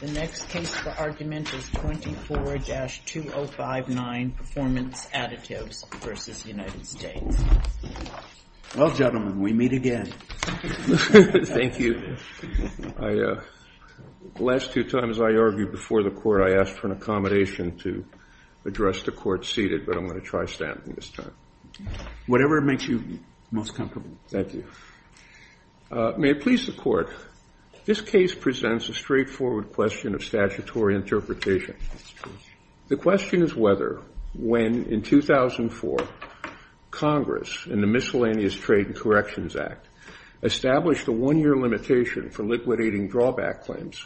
The next case for argument is 24-2059, Performance Additives v. United States. Well gentlemen, we meet again. Thank you. The last two times I argued before the court I asked for an accommodation to address the court seated, but I'm going to try standing this time. Whatever makes you most comfortable. Thank you. May it please the court. This case presents a straightforward question of statutory interpretation. The question is whether, when in 2004, Congress in the Miscellaneous Trade and Corrections Act established a one-year limitation for liquidating drawback claims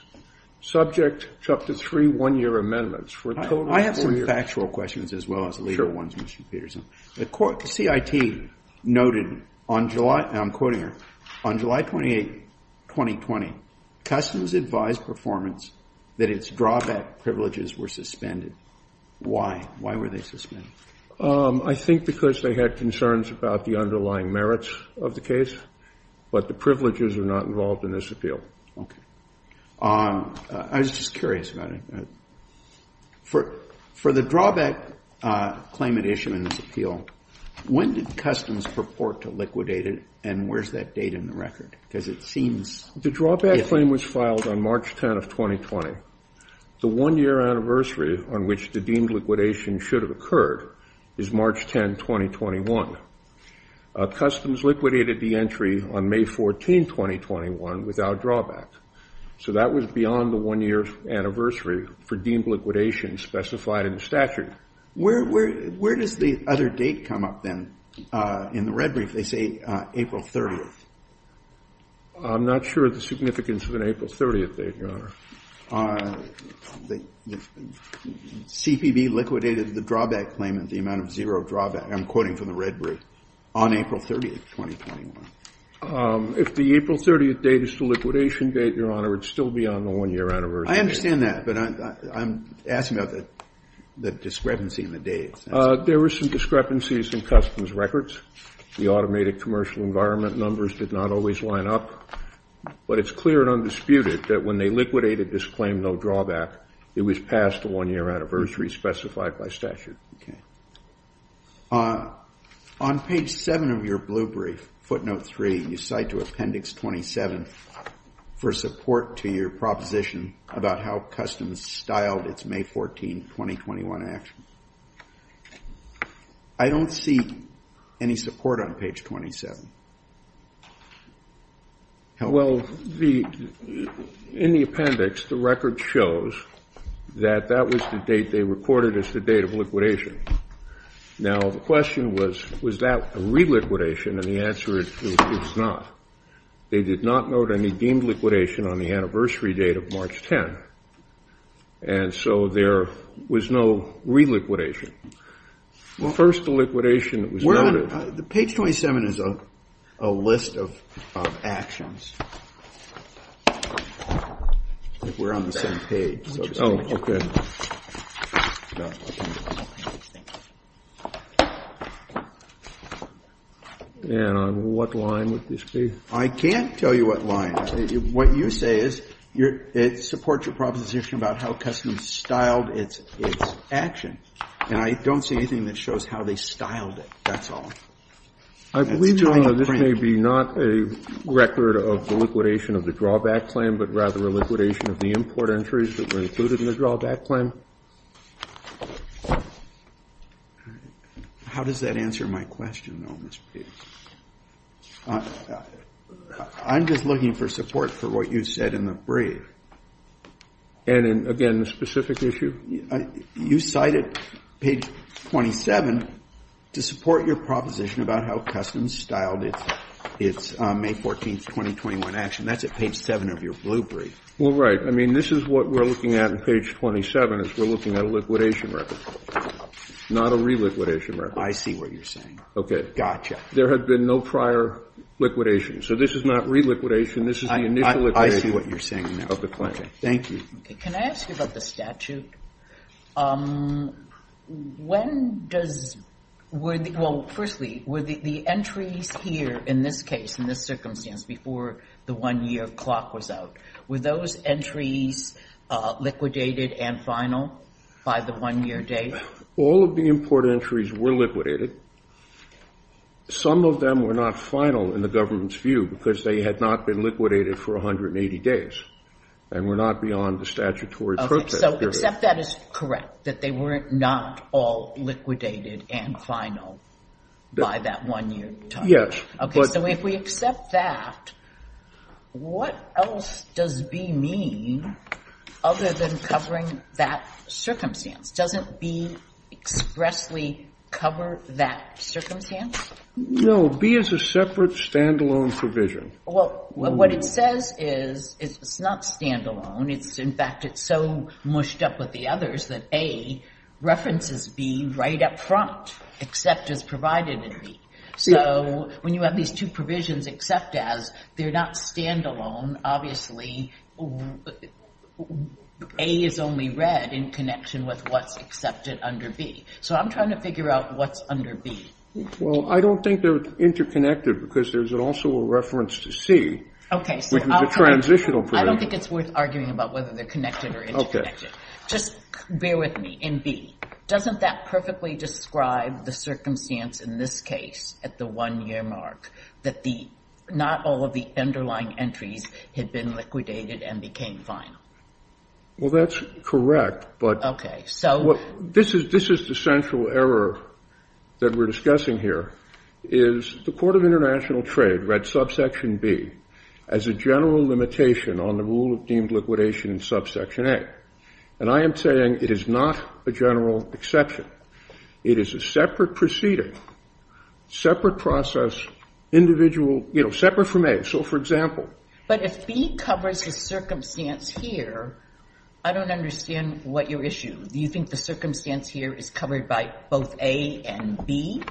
subject to up to three one-year amendments for a total of four years. I have some factual questions as well as the legal ones, Mr. Peterson. The CIT noted on July, and I'm quoting her, on July 28, 2020, Customs advised Performance that its drawback privileges were suspended. Why? Why were they suspended? I think because they had concerns about the underlying merits of the case, but the privileges are not involved in this appeal. Okay. I was just curious about it. For the drawback claim at issue in this appeal, when did Customs purport to liquidate it, and where's that date in the record, because it seems— The drawback claim was filed on March 10 of 2020. The one-year anniversary on which the deemed liquidation should have occurred is March 10, 2021. Customs liquidated the entry on May 14, 2021, without drawback, so that was beyond the one-year anniversary for deemed liquidation specified in the statute. Where does the other date come up, then, in the red brief? They say April 30th. I'm not sure of the significance of an April 30th date, Your Honor. CPB liquidated the drawback claim at the amount of zero drawback. I'm quoting from the red brief. On April 30, 2021. If the April 30th date is the liquidation date, Your Honor, it would still be on the one-year anniversary. I understand that, but I'm asking about the discrepancy in the dates. There were some discrepancies in Customs records. The automated commercial environment numbers did not always line up, but it's clear and undisputed that when they liquidated this claim, no drawback, it was past the one-year anniversary specified by statute. On page 7 of your blue brief, footnote 3, you cite to appendix 27, for support to your proposition about how Customs styled its May 14, 2021, actions. I don't see any support on page 27. Well, in the appendix, the record shows that that was the date they reported as the date of liquidation. Now, the question was, was that a re-liquidation? And the answer is, it's not. They did not note any deemed liquidation on the anniversary date of March 10. And so there was no re-liquidation. First, the liquidation that was noted. The page 27 is a list of actions. We're on the same page. Oh, okay. And on what line would this be? I can't tell you what line. What you say is, it supports your proposition about how Customs styled its action. And I don't see anything that shows how they styled it. That's all. I believe, Your Honor, this may be not a record of the liquidation of the drawback claim, but rather a liquidation of the import entries that were included in the drawback claim. How does that answer my question, though, Mr. Petey? I'm just looking for support for what you said in the brief. And again, the specific issue? You cited page 27 to support your proposition about how Customs styled its May 14, 2021 action. That's at page 7 of your blue brief. Well, right. I mean, this is what we're looking at in page 27 is we're looking at a liquidation record, not a re-liquidation record. I see what you're saying. Okay. Gotcha. There had been no prior liquidation. So this is not re-liquidation. This is the initial liquidation of the claim. Thank you. Can I ask you about the statute? When does, well, firstly, were the entries here in this case, in this circumstance, before the one-year clock was out, were those entries liquidated and final by the one-year date? All of the import entries were liquidated. Some of them were not final in the government's view because they had not been liquidated for 180 days and were not beyond the statutory purpose. Okay. So except that is correct, that they were not all liquidated and final by that one-year time? Yes. Okay. So if we accept that, what else does B mean other than covering that circumstance? Doesn't B expressly cover that circumstance? No. B is a separate, standalone provision. Well, what it says is it's not standalone. It's, in fact, it's so mushed up with the others that A references B right up front, except as provided in B. So when you have these two provisions, except as, they're not standalone. Obviously, A is only read in connection with what's accepted under B. So I'm trying to figure out what's under B. Well, I don't think they're interconnected because there's also a reference to C. Okay. Which is a transitional provision. I don't think it's worth arguing about whether they're connected or interconnected. Okay. Just bear with me. In B, doesn't that perfectly describe the circumstance in this case at the one-year mark that not all of the underlying entries had been liquidated and became final? Well, that's correct, but this is the central error that we're discussing here, is the Court of International Trade read subsection B as a general limitation on the rule of deemed liquidation in subsection A. And I am saying it is not a general exception. It is a separate proceeding, separate process, individual, you know, separate from A. So, for example. But if B covers the circumstance here, I don't understand what your issue. Do you think the circumstance here is covered by both A and B,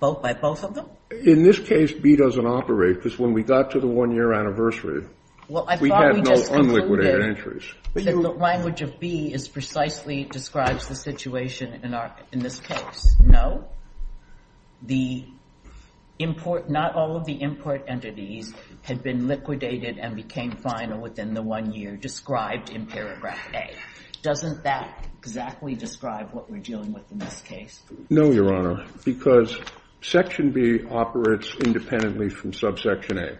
by both of them? In this case, B doesn't operate because when we got to the one-year anniversary, we had no unliquidated entries. The language of B precisely describes the situation in this case. No, not all of the import entities had been liquidated and became final within the one-year described in paragraph A. Doesn't that exactly describe what we're dealing with in this case? No, Your Honor, because section B operates independently from subsection A.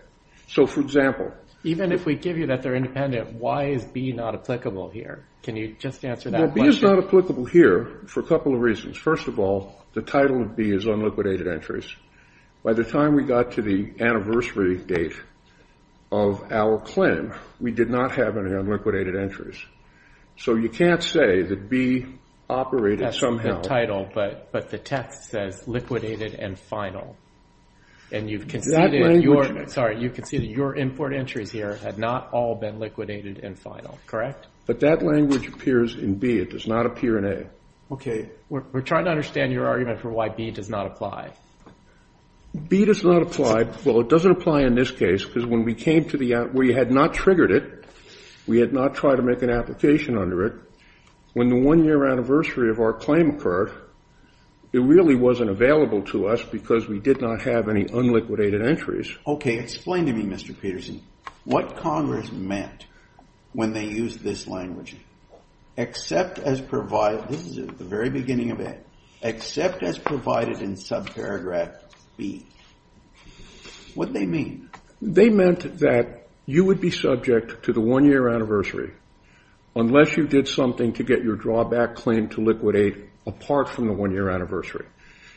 So, for example. Even if we give you that they're independent, why is B not applicable here? Can you just answer that question? Well, B is not applicable here for a couple of reasons. First of all, the title of B is unliquidated entries. By the time we got to the anniversary date of our claim, we did not have any unliquidated entries. So, you can't say that B operated somehow. That's the title, but the text says liquidated and final. And you've conceded that your import entries here had not all been liquidated and final, correct? But that language appears in B. It does not appear in A. Okay, we're trying to understand your argument for why B does not apply. B does not apply. Well, it doesn't apply in this case because when we had not triggered it, we had not tried to make an application under it. When the one-year anniversary of our claim occurred, it really wasn't available to us because we did not have any unliquidated entries. Okay, explain to me, Mr. Peterson, what Congress meant when they used this language? Except as provided, this is at the very beginning of it, except as provided in subparagraph B. What'd they mean? They meant that you would be subject to the one-year anniversary unless you did something to get your drawback claim to liquidate apart from the one-year anniversary.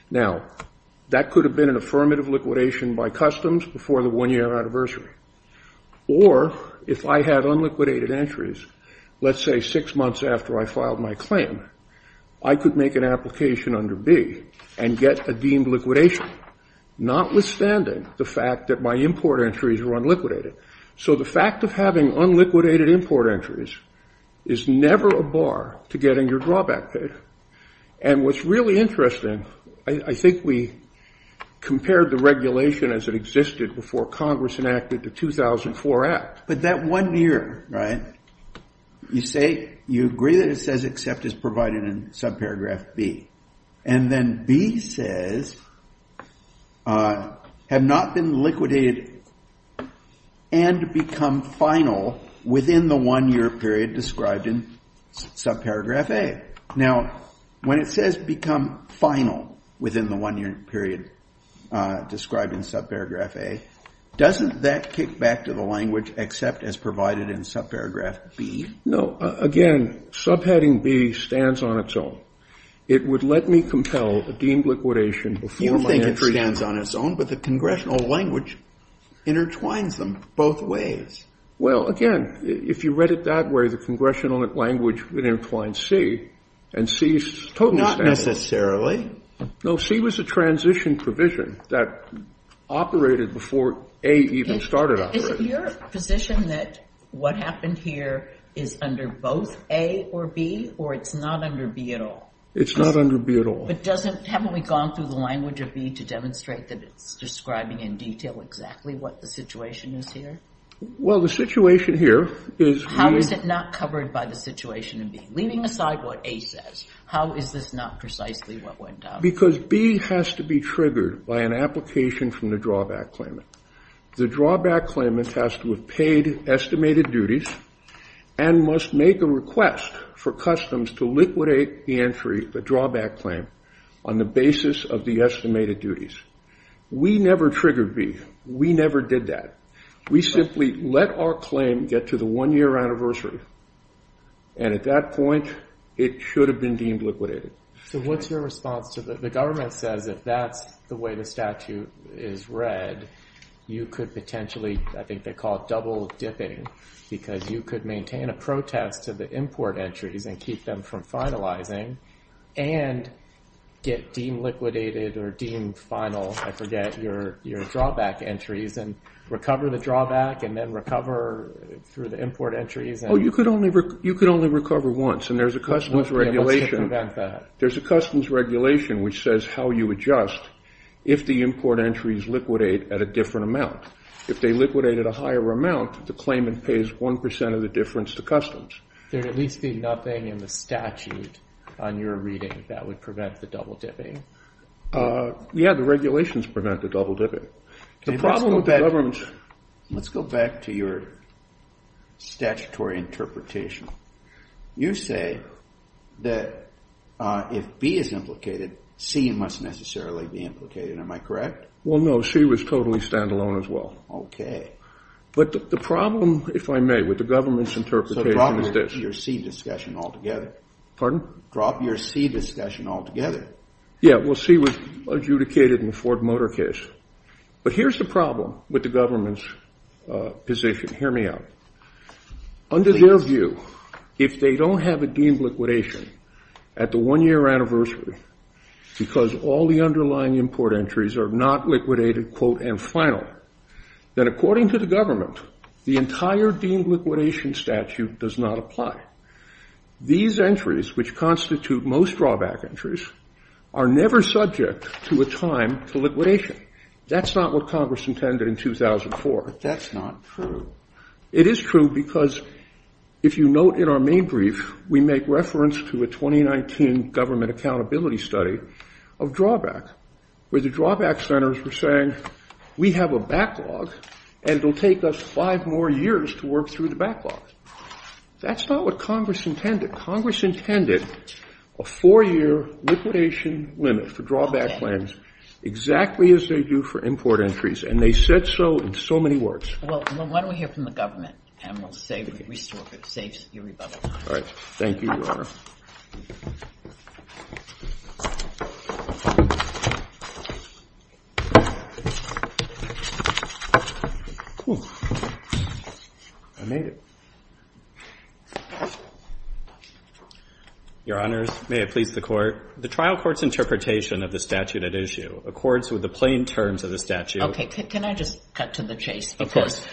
Now, that could have been an affirmative liquidation by customs before the one-year anniversary. Or if I had unliquidated entries, let's say six months after I filed my claim, I could make an application under B and get a deemed liquidation, notwithstanding the fact that my import entries were unliquidated. So the fact of having unliquidated import entries is never a bar to getting your drawback and what's really interesting, I think we compared the regulation as it existed before Congress enacted the 2004 Act. But that one year, right, you say, you agree that it says except as provided in subparagraph B. And then B says, have not been liquidated and become final within the one-year period described in subparagraph A. Now, when it says become final within the one-year period described in subparagraph A, doesn't that kick back to the language except as provided in subparagraph B? No. Again, subheading B stands on its own. It would let me compel a deemed liquidation before my entry. You think it stands on its own, but the congressional language intertwines them both ways. Well, again, if you read it that way, the congressional language would intertwine C and C is totally standard. No, C was a transition provision that operated before A even started operating. Is it your position that what happened here is under both A or B or it's not under B at all? It's not under B at all. But doesn't, haven't we gone through the language of B to demonstrate that it's describing in detail exactly what the situation is here? Well, the situation here is... How is it not covered by the situation in B? Leaving aside what A says, how is this not precisely what went down? Because B has to be triggered by an application from the drawback claimant. The drawback claimant has to have paid estimated duties and must make a request for customs to liquidate the entry, the drawback claim, on the basis of the estimated duties. We never triggered B. We never did that. We simply let our claim get to the one year anniversary. And at that point, it should have been deemed liquidated. So what's your response to the government says if that's the way the statute is read, you could potentially, I think they call it double dipping, because you could maintain a protest to the import entries and keep them from finalizing and get deemed liquidated or deemed final. I forget your drawback entries and recover the drawback and then recover through the import entries. Oh, you could only recover once. And there's a customs regulation. There's a customs regulation which says how you adjust if the import entries liquidate at a different amount. If they liquidate at a higher amount, the claimant pays 1% of the difference to customs. There'd at least be nothing in the statute on your reading that would prevent the double dipping. Uh, yeah, the regulations prevent the double dipping. Let's go back to your statutory interpretation. You say that if B is implicated, C must necessarily be implicated. Am I correct? Well, no, she was totally standalone as well. OK. But the problem, if I may, with the government's interpretation is this. So drop your C discussion altogether. Pardon? Drop your C discussion altogether. Yeah, we'll see what's adjudicated in the Ford Motor case. But here's the problem with the government's position. Hear me out. Under their view, if they don't have a deemed liquidation at the one-year anniversary because all the underlying import entries are not liquidated, quote, and final, then according to the government, the entire deemed liquidation statute does not apply. These entries, which constitute most drawback entries, are never subject to a time to liquidation. That's not what Congress intended in 2004. That's not true. It is true because, if you note in our main brief, we make reference to a 2019 government accountability study of drawback, where the drawback centers were saying, we have a backlog and it'll take us five more years to work through the backlog. That's not what Congress intended. Congress intended a four-year liquidation limit for drawback plans, exactly as they do for import entries. And they said so in so many words. Well, why don't we hear from the government? And we'll save, restore, save your rebuttal time. All right. Thank you, Your Honor. I made it. Your Honor, may it please the Court. The trial court's interpretation of the statute at issue accords with the plain terms of the statute. OK. Can I just cut to the chase? Of course.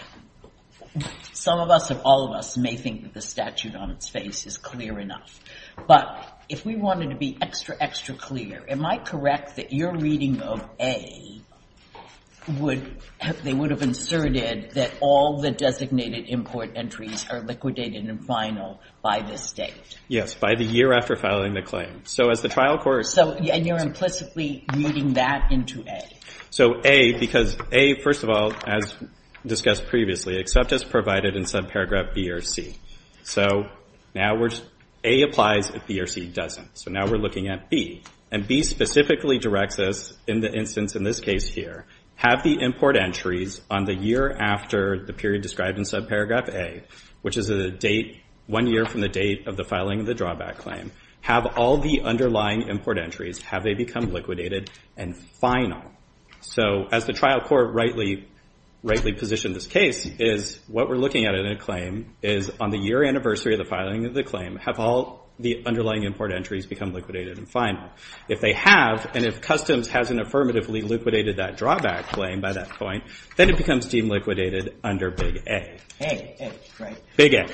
Some of us, if all of us, may think that the statute on its face is clear enough. But if we wanted to be extra, extra clear, am I correct that your reading of A would have inserted that all the designated import entries are liquidated and final by this date? By the year after filing the claim. So as the trial court. So and you're implicitly moving that into A. So A, because A, first of all, as discussed previously, except as provided in subparagraph B or C. So now A applies if B or C doesn't. So now we're looking at B. And B specifically directs us in the instance in this case here. Have the import entries on the year after the period described in subparagraph A, which is a date one year from the date of the filing of the drawback claim. Have all the underlying import entries. Have they become liquidated and final. So as the trial court rightly positioned this case is what we're looking at in a claim is on the year anniversary of the filing of the claim. Have all the underlying import entries become liquidated and final. If they have, and if customs hasn't affirmatively liquidated that drawback claim by that point, then it becomes deemed liquidated under big A. A, A, right. Big A.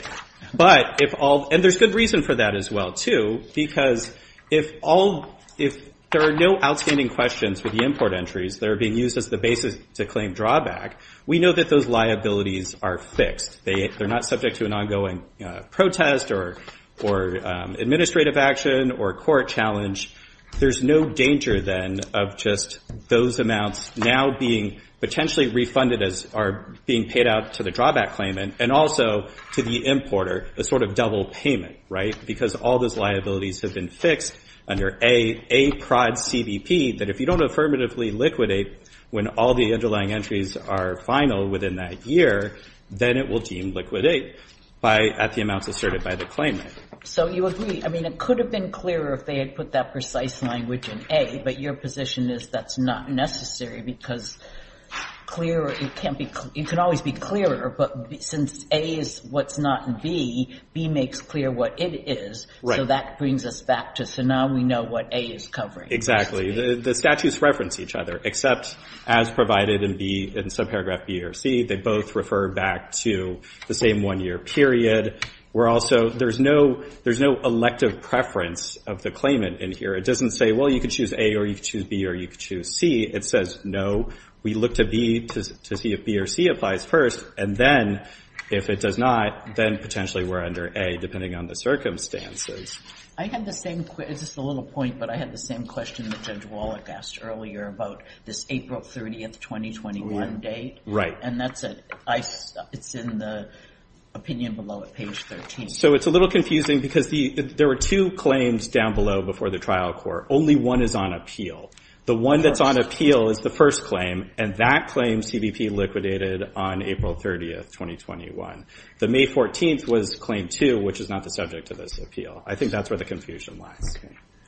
But if all, and there's good reason for that as well too. Because if all, if there are no outstanding questions for the import entries that are being used as the basis to claim drawback, we know that those liabilities are fixed. They, they're not subject to an ongoing protest or, or administrative action or court challenge. There's no danger then of just those amounts now being potentially refunded as are being paid out to the drawback claimant and also to the importer, a sort of double payment, right? Because all those liabilities have been fixed under A, A prod CBP that if you don't affirmatively liquidate when all the underlying entries are final within that year, then it will deem liquidate by, at the amounts asserted by the claimant. So you agree. I mean, it could have been clearer if they had put that precise language in A, but your position is that's not necessary because clear, it can't be, it can always be clearer, but since A is what's not in B, B makes clear what it is. Right. So that brings us back to, so now we know what A is covering. Exactly. The statutes reference each other, except as provided in B, in subparagraph B or C, they both refer back to the same one year period. We're also, there's no, there's no elective preference of the claimant in here. It doesn't say, well, you could choose A or you could choose B or you could choose C. It says, no, we look to B to see if B or C applies first. And then if it does not, then potentially we're under A depending on the circumstances. I had the same, it's just a little point, but I had the same question that Judge Wallach asked earlier about this April 30th, 2021 date. Right. And that's, it's in the opinion below at page 13. So it's a little confusing because there were two claims down below before the trial court. Only one is on appeal. The one that's on appeal is the first claim, and that claim CBP liquidated on April 30th, 2021. The May 14th was claim two, which is not the subject of this appeal. I think that's where the confusion lies.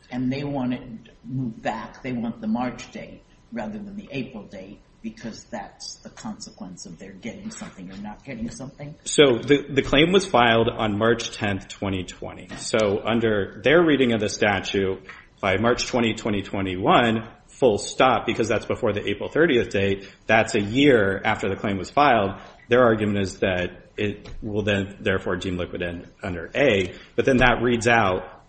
And they want it moved back. They want the March date rather than the April date because that's the consequence of their getting something or not getting something. So the claim was filed on March 10th, 2020. So under their reading of the statute by March 20, 2021, full stop, because that's before the April 30th date, that's a year after the claim was filed. Their argument is that it will then therefore deem liquidant under A, but then that reads out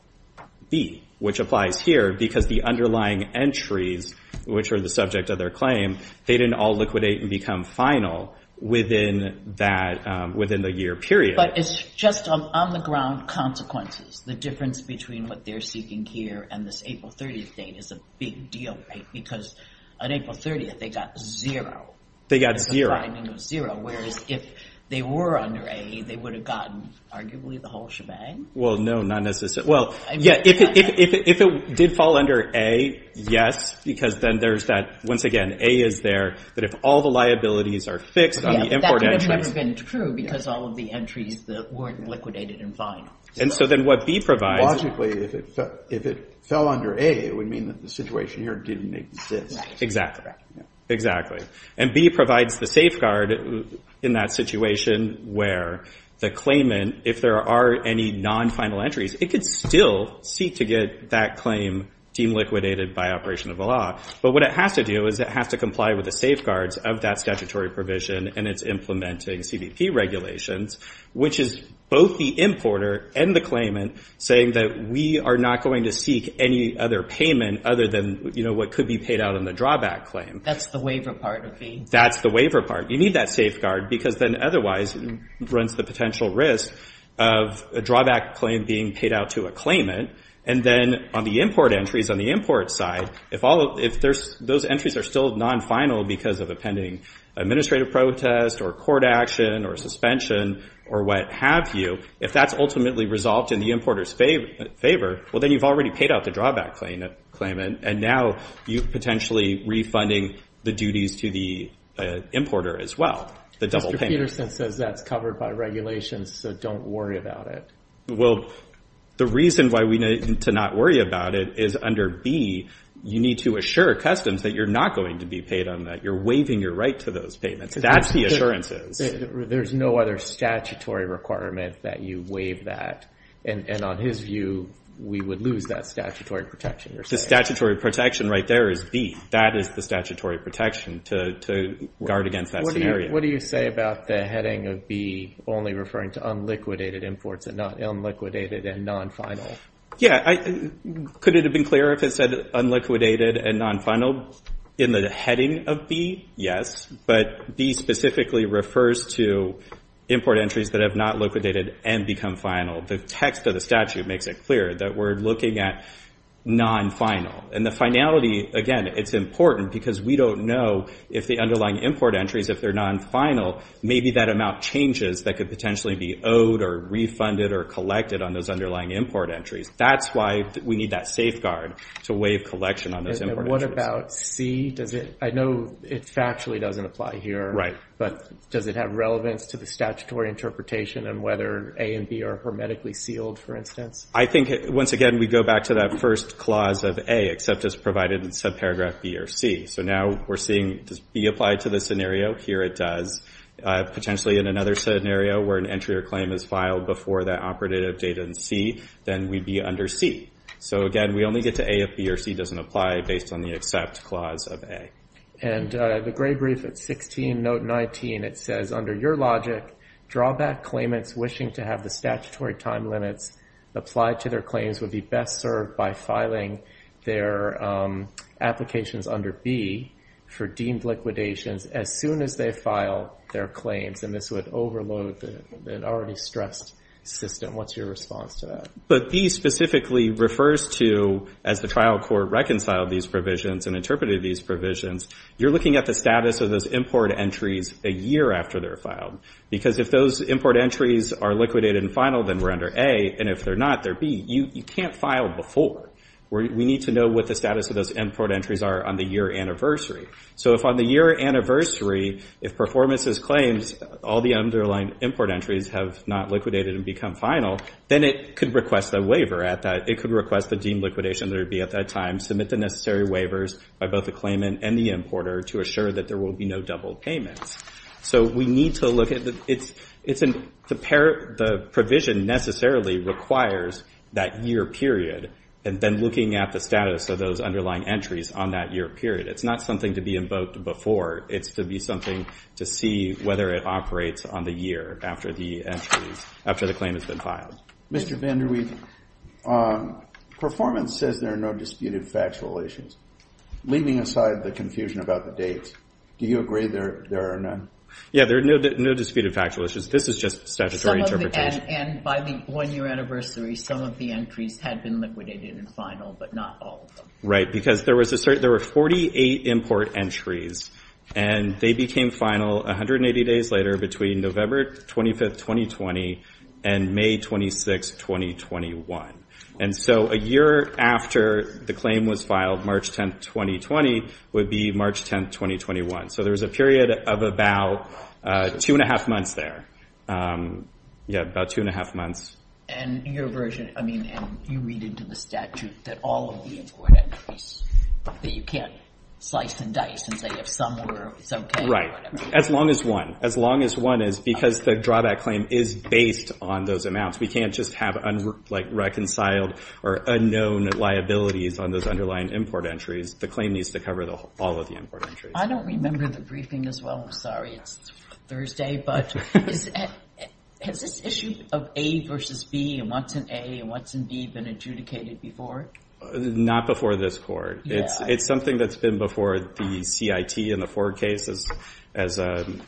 B, which applies here because the underlying entries, which are the subject of their claim, they didn't all liquidate and become final within that, within the year period. But it's just on the ground consequences. The difference between what they're seeking here and this April 30th date is a big deal, right? Because on April 30th, they got zero. They got zero. The timing was zero. Whereas if they were under A, they would have gotten arguably the whole shebang. Well, no, not necessarily. Well, yeah. If it did fall under A, yes, because then there's that, once again, A is there. But if all the liabilities are fixed on the import entries. That would have never been true because all of the entries weren't liquidated and final. And so then what B provides. Logically, if it fell under A, it would mean that the situation here didn't exist. Exactly. Exactly. And B provides the safeguard in that situation where the claimant, if there are any non-final entries, it could still seek to get that claim deemed liquidated by operation of the law. But what it has to do is it has to comply with the safeguards of that statutory provision. And it's implementing CBP regulations, which is both the importer and the claimant saying that we are not going to seek any other payment other than, you know, what could be paid out in the drawback claim. That's the waiver part of B. That's the waiver part. You need that safeguard because then otherwise it runs the potential risk of a drawback claim being paid out to a claimant. And then on the import entries, on the import side, if those entries are still non-final because of a pending administrative protest or court action or suspension or what have you, if that's ultimately resolved in the importer's favor, well, then you've already paid out the drawback claimant. And now you're potentially refunding the duties to the importer as well. The double payment. Mr. Peterson says that's covered by regulations, so don't worry about it. Well, the reason why we need to not worry about it is under B, you need to assure customs that you're not going to be paid on that. You're waiving your right to those payments. That's the assurances. There's no other statutory requirement that you waive that. And on his view, we would lose that statutory protection, you're saying. The statutory protection right there is B. That is the statutory protection to guard against that scenario. What do you say about the heading of B only referring to unliquidated imports and not unliquidated and non-final? Yeah. Could it have been clearer if it said unliquidated and non-final in the heading of B? Yes. But B specifically refers to import entries that have not liquidated and become final. The text of the statute makes it clear that we're looking at non-final. And the finality, again, it's important because we don't know if the underlying import entries, if they're non-final, maybe that amount changes that could potentially be owed or refunded or collected on those underlying import entries. That's why we need that safeguard to waive collection on those import entries. What about C? I know it factually doesn't apply here. Right. But does it have relevance to the statutory interpretation and whether A and B are hermetically sealed, for instance? I think, once again, we go back to that first clause of A, except it's provided in subparagraph B or C. So now we're seeing, does B apply to this scenario? Here it does. Potentially in another scenario where an entry or claim is filed before that operative date in C, then we'd be under C. So again, we only get to A if B or C doesn't apply based on the accept clause of A. And the gray brief at 16, note 19, it says, under your logic, drawback claimants wishing to have the statutory time limits applied to their claims would be best served by filing their applications under B for deemed liquidations as soon as they file their claims. And this would overload the already stressed system. What's your response to that? But B specifically refers to, as the trial court reconciled these provisions and interpreted these provisions, you're looking at the status of those import entries a year after they're filed. Because if those import entries are liquidated and final, then we're under A. And if they're not, they're B. You can't file before. We need to know what the status of those import entries are on the year anniversary. So if on the year anniversary, if performances claims, all the underlying import entries have not liquidated and become final, then it could request a waiver at that. It could request the deemed liquidation that would be at that time, submit the necessary waivers by both the claimant and the importer to assure that there will be no double payments. So we need to look at the provision necessarily requires that year period. And then looking at the status of those underlying entries on that year period. It's not something to be invoked before. It's to be something to see whether it operates on the year after the claim has been filed. Mr. VanderWeef, performance says there are no disputed factual issues. Leaving aside the confusion about the dates, do you agree there are none? Yeah, there are no disputed factual issues. This is just statutory interpretation. And by the one year anniversary, some of the entries had been liquidated and final, but not all of them. Right, because there were 48 import entries. And they became final 180 days later between November 25th, 2020 and May 26th, 2021. And so a year after the claim was filed, March 10th, 2020 would be March 10th, 2021. So there was a period of about two and a half months there. Yeah, about two and a half months. And your version, I mean, and you read into the statute that all of the import entries that you can't slice and dice and say if some were, it's OK. Right, as long as one. As long as one is because the drawback claim is based on those amounts. We can't just have unreconciled or unknown liabilities on those underlying import entries. The claim needs to cover all of the import entries. I don't remember the briefing as well. It's Thursday. But has this issue of A versus B and what's in A and what's in B been adjudicated before? Not before this court. It's something that's been before the CIT and the Ford case, as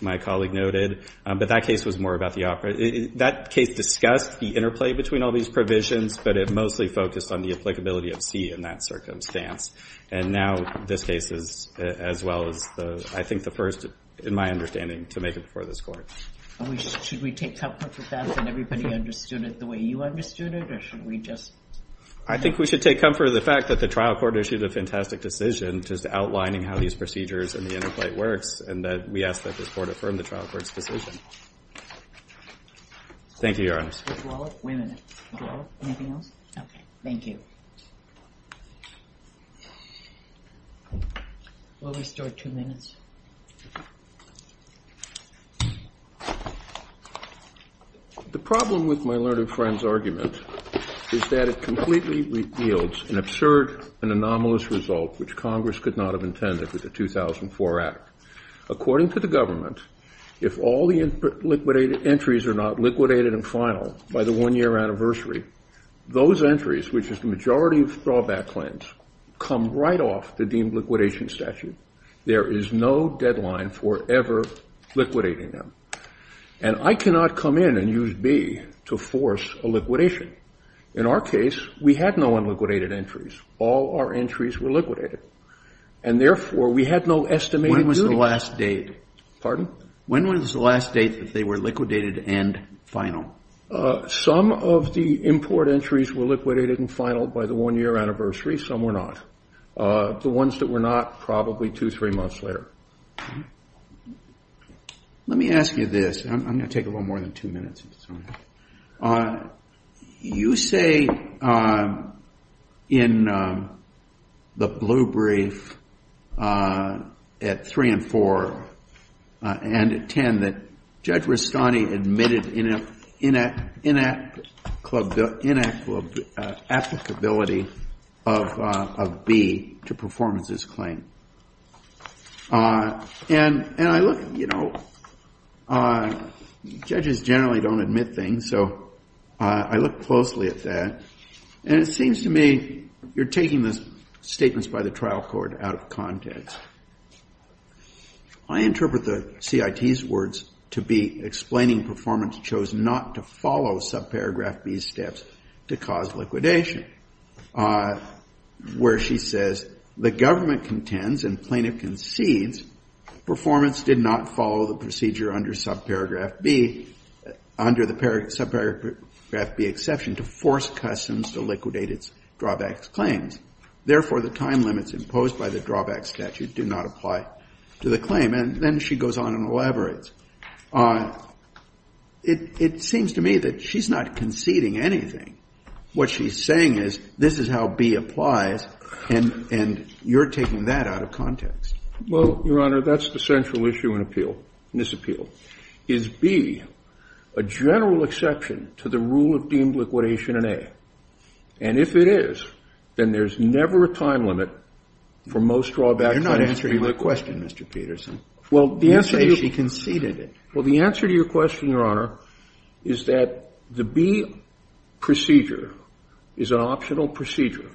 my colleague noted. But that case was more about the operative. That case discussed the interplay between all these provisions, but it mostly focused on the applicability of C in that circumstance. And now this case is as well as, I think, the first, in my understanding, to make it before this court. Should we take comfort with that and everybody understood it the way you understood it? Or should we just? I think we should take comfort in the fact that the trial court issued a fantastic decision just outlining how these procedures and the interplay works, and that we ask that this court affirm the trial court's decision. Thank you, Your Honor. Mr. Dwallet? Wait a minute. Mr. Dwallet? Anything else? Okay. Thank you. We'll restore two minutes. The problem with my learned friend's argument is that it completely yields an absurd and anomalous result, which Congress could not have intended with the 2004 Act. According to the government, if all the liquidated entries are not liquidated and final by the one-year anniversary, those entries, which is the majority of throwback claims, come right off the deemed liquidation statute. There is no deadline for ever liquidating them. And I cannot come in and use B to force a liquidation. In our case, we had no unliquidated entries. All our entries were liquidated. And therefore, we had no estimated duty. When was the last date? Pardon? When was the last date that they were liquidated and final? Some of the import entries were liquidated and final by the one-year anniversary. Some were not. The ones that were not, probably two, three months later. Let me ask you this. I'm going to take a little more than two minutes. You say in the blue brief at 3 and 4 and at 10 that Judge Rastani admitted inapplicability of B to performances claim. Judges generally don't admit things. So I look closely at that. And it seems to me you're taking the statements by the trial court out of context. I interpret the CIT's words to be explaining performance chose not to follow subparagraph B's steps to cause liquidation, where she says, the government contends and plaintiff concedes performance did not follow the procedure under subparagraph B, under the subparagraph B exception, to force customs to liquidate its drawbacks claims. Therefore, the time limits imposed by the drawback statute do not apply to the claim. And then she goes on and elaborates. It seems to me that she's not conceding anything. What she's saying is, this is how B applies. And you're taking that out of context. Well, Your Honor, that's the central issue in this appeal. Is B a general exception to the rule of deemed liquidation in A? And if it is, then there's never a time limit for most drawbacks. You're not answering my question, Mr. Peterson. Well, the answer to your question, Your Honor, is that the B procedure is an optional procedure.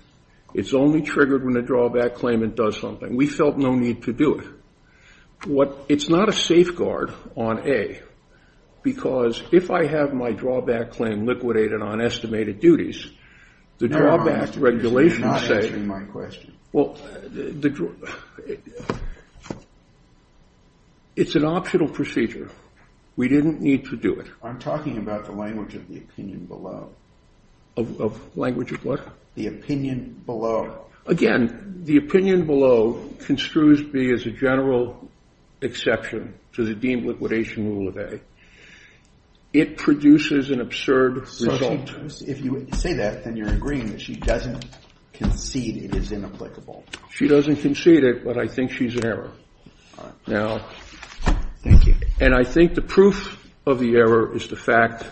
It's only triggered when the drawback claimant does something. We felt no need to do it. It's not a safeguard on A, because if I have my drawback claim liquidated on estimated duties, the drawback regulations say, well, it's an optional procedure. We didn't need to do it. I'm talking about the language of the opinion below. Of language of what? The opinion below. Again, the opinion below construes B as a general exception to the deemed liquidation rule of A. It produces an absurd result. So if you say that, then you're agreeing that she doesn't concede it is inapplicable. She doesn't concede it, but I think she's in error. Now, and I think the proof of the error is the fact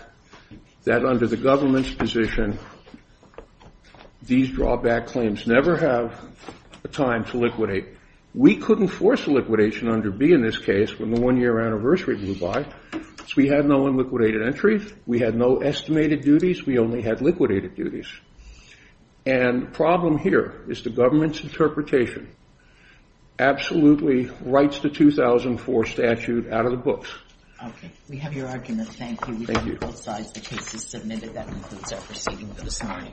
that under the government's position, these drawback claims never have a time to liquidate. We couldn't force a liquidation under B in this case when the one-year anniversary blew by. So we had no unliquidated entries. We had no estimated duties. We only had liquidated duties. And the problem here is the government's interpretation absolutely writes the 2004 statute out of the books. Okay. We have your argument. Thank you. Thank you. We've got both sides of the cases submitted. That concludes our proceeding for this morning.